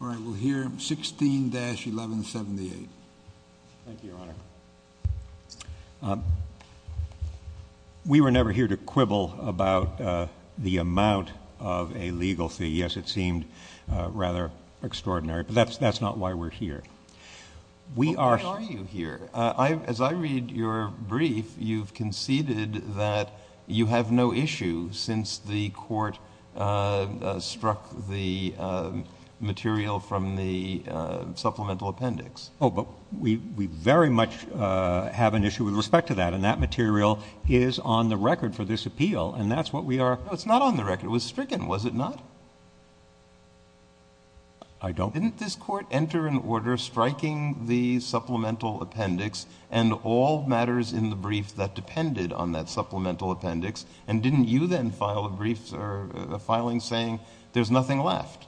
All right, we'll hear 16-1178. Thank you, Your Honor. We were never here to quibble about the amount of a legal fee. Yes, it seemed rather extraordinary, but that's not why we're here. Why are you here? As I read your brief, you've conceded that you have no issue since the court struck the material from the supplemental appendix. Oh, but we very much have an issue with respect to that, and that material is on the record for this appeal, and that's what we are — No, it's not on the record. It was stricken, was it not? I don't — Didn't this court enter an order striking the supplemental appendix and all matters in the brief that depended on that supplemental appendix, and didn't you then file a brief or a filing saying there's nothing left,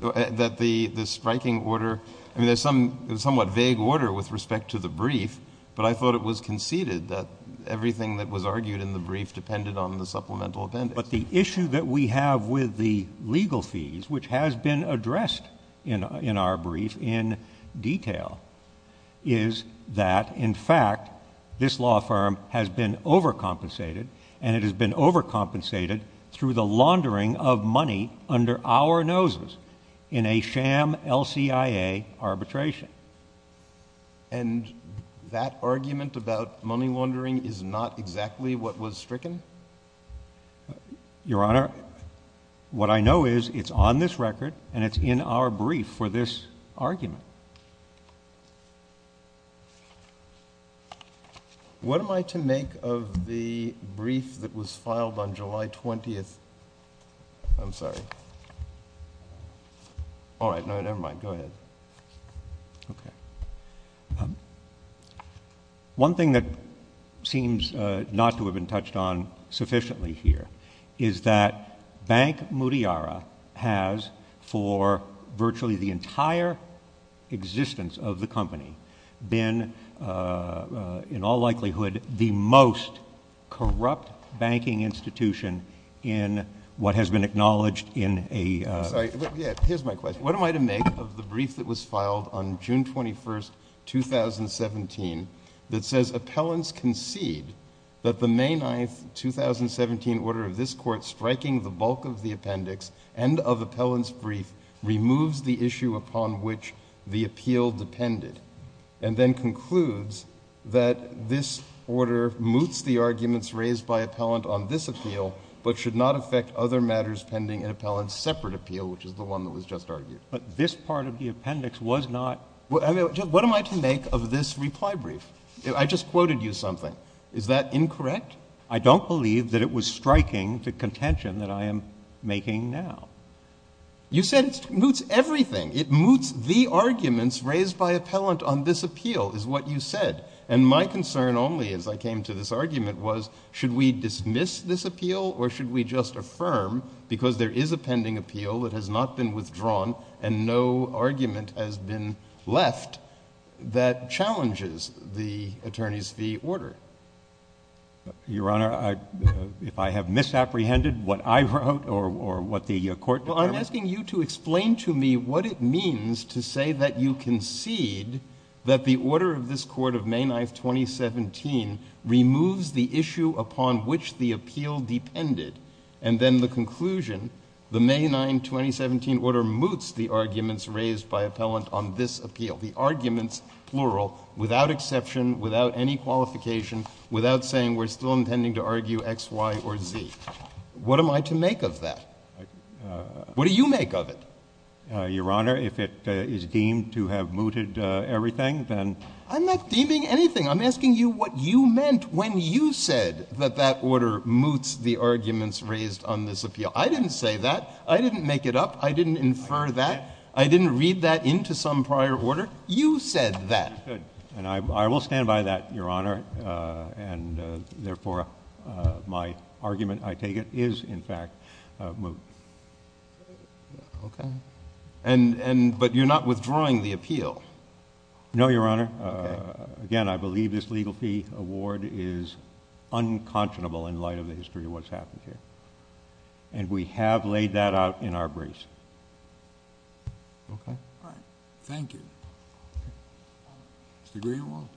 that the striking order — I mean, there's some somewhat vague order with respect to the brief, but I thought it was conceded that everything that was argued in the brief depended on the supplemental appendix. But the issue that we have with the legal fees, which has been addressed in our brief in detail, is that, in fact, this law firm has been overcompensated, and it has been overcompensated through the laundering of money under our noses in a sham LCIA arbitration. And that argument about money laundering is not exactly what was stricken? Your Honor, what I know is it's on this record, and it's in our brief for this argument. What am I to make of the brief that was filed on July 20th? I'm sorry. All right. No, never mind. Go ahead. Okay. One thing that seems not to have been touched on sufficiently here is that Bank Mutiara has, for virtually the entire existence of the company, been in all likelihood the most corrupt banking institution in what has been acknowledged in a — I'm sorry. Here's my question. What am I to make of the brief that was filed on June 21st, 2017, that says appellants concede that the May 9th, 2017, order of this Court striking the bulk of the appendix and of appellant's brief removes the issue upon which the appeal depended, and then concludes that this order moots the arguments raised by appellant on this appeal but should not affect other matters pending an appellant's separate appeal, which is the one that was just argued? But this part of the appendix was not — I mean, what am I to make of this reply brief? I just quoted you something. Is that incorrect? I don't believe that it was striking the contention that I am making now. You said it moots everything. It moots the arguments raised by appellant on this appeal, is what you said. And my concern only, as I came to this argument, was should we dismiss this appeal or should we just affirm, because there is a pending appeal that has not been withdrawn and no argument has been left, that challenges the attorney's fee order? Your Honor, if I have misapprehended what I wrote or what the Court determined — Well, I'm asking you to explain to me what it means to say that you concede that the May 9, 2017, removes the issue upon which the appeal depended, and then the conclusion, the May 9, 2017, order moots the arguments raised by appellant on this appeal. The arguments, plural, without exception, without any qualification, without saying we're still intending to argue X, Y, or Z. What am I to make of that? What do you make of it? Your Honor, if it is deemed to have mooted everything, then — I'm not deeming anything. I'm asking you what you meant when you said that that order moots the arguments raised on this appeal. I didn't say that. I didn't make it up. I didn't infer that. I didn't read that into some prior order. You said that. And I will stand by that, Your Honor. And, therefore, my argument, I take it, is, in fact, moot. Okay. But you're not withdrawing the appeal? No, Your Honor. Okay. Again, I believe this legal fee award is unconscionable in light of the history of what's happened here. And we have laid that out in our briefs. Okay? All right. Thank you. Mr. Greenwald?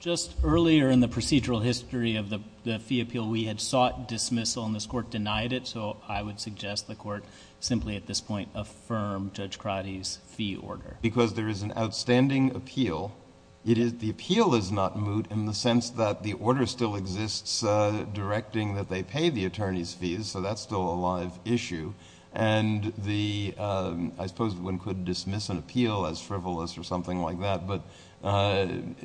Just earlier in the procedural history of the fee appeal, we had sought dismissal, and this Court denied it. So I would suggest the Court simply, at this point, affirm Judge Crotty's fee order. Because there is an outstanding appeal. The appeal is not moot in the sense that the order still exists directing that they pay the attorneys' fees. So that's still a live issue. And I suppose one could dismiss an appeal as frivolous or something like that. But an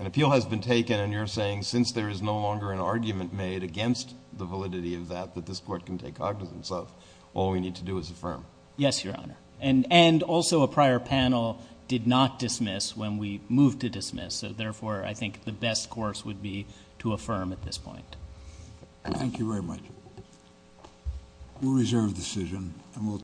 appeal has been taken, and you're saying, since there is no longer an argument made against the validity of that, that this Court can take cognizance of, all we need to do is affirm. Yes, Your Honor. And also a prior panel did not dismiss when we moved to dismiss. So, therefore, I think the best course would be to affirm at this point. Thank you very much. We'll reserve the decision.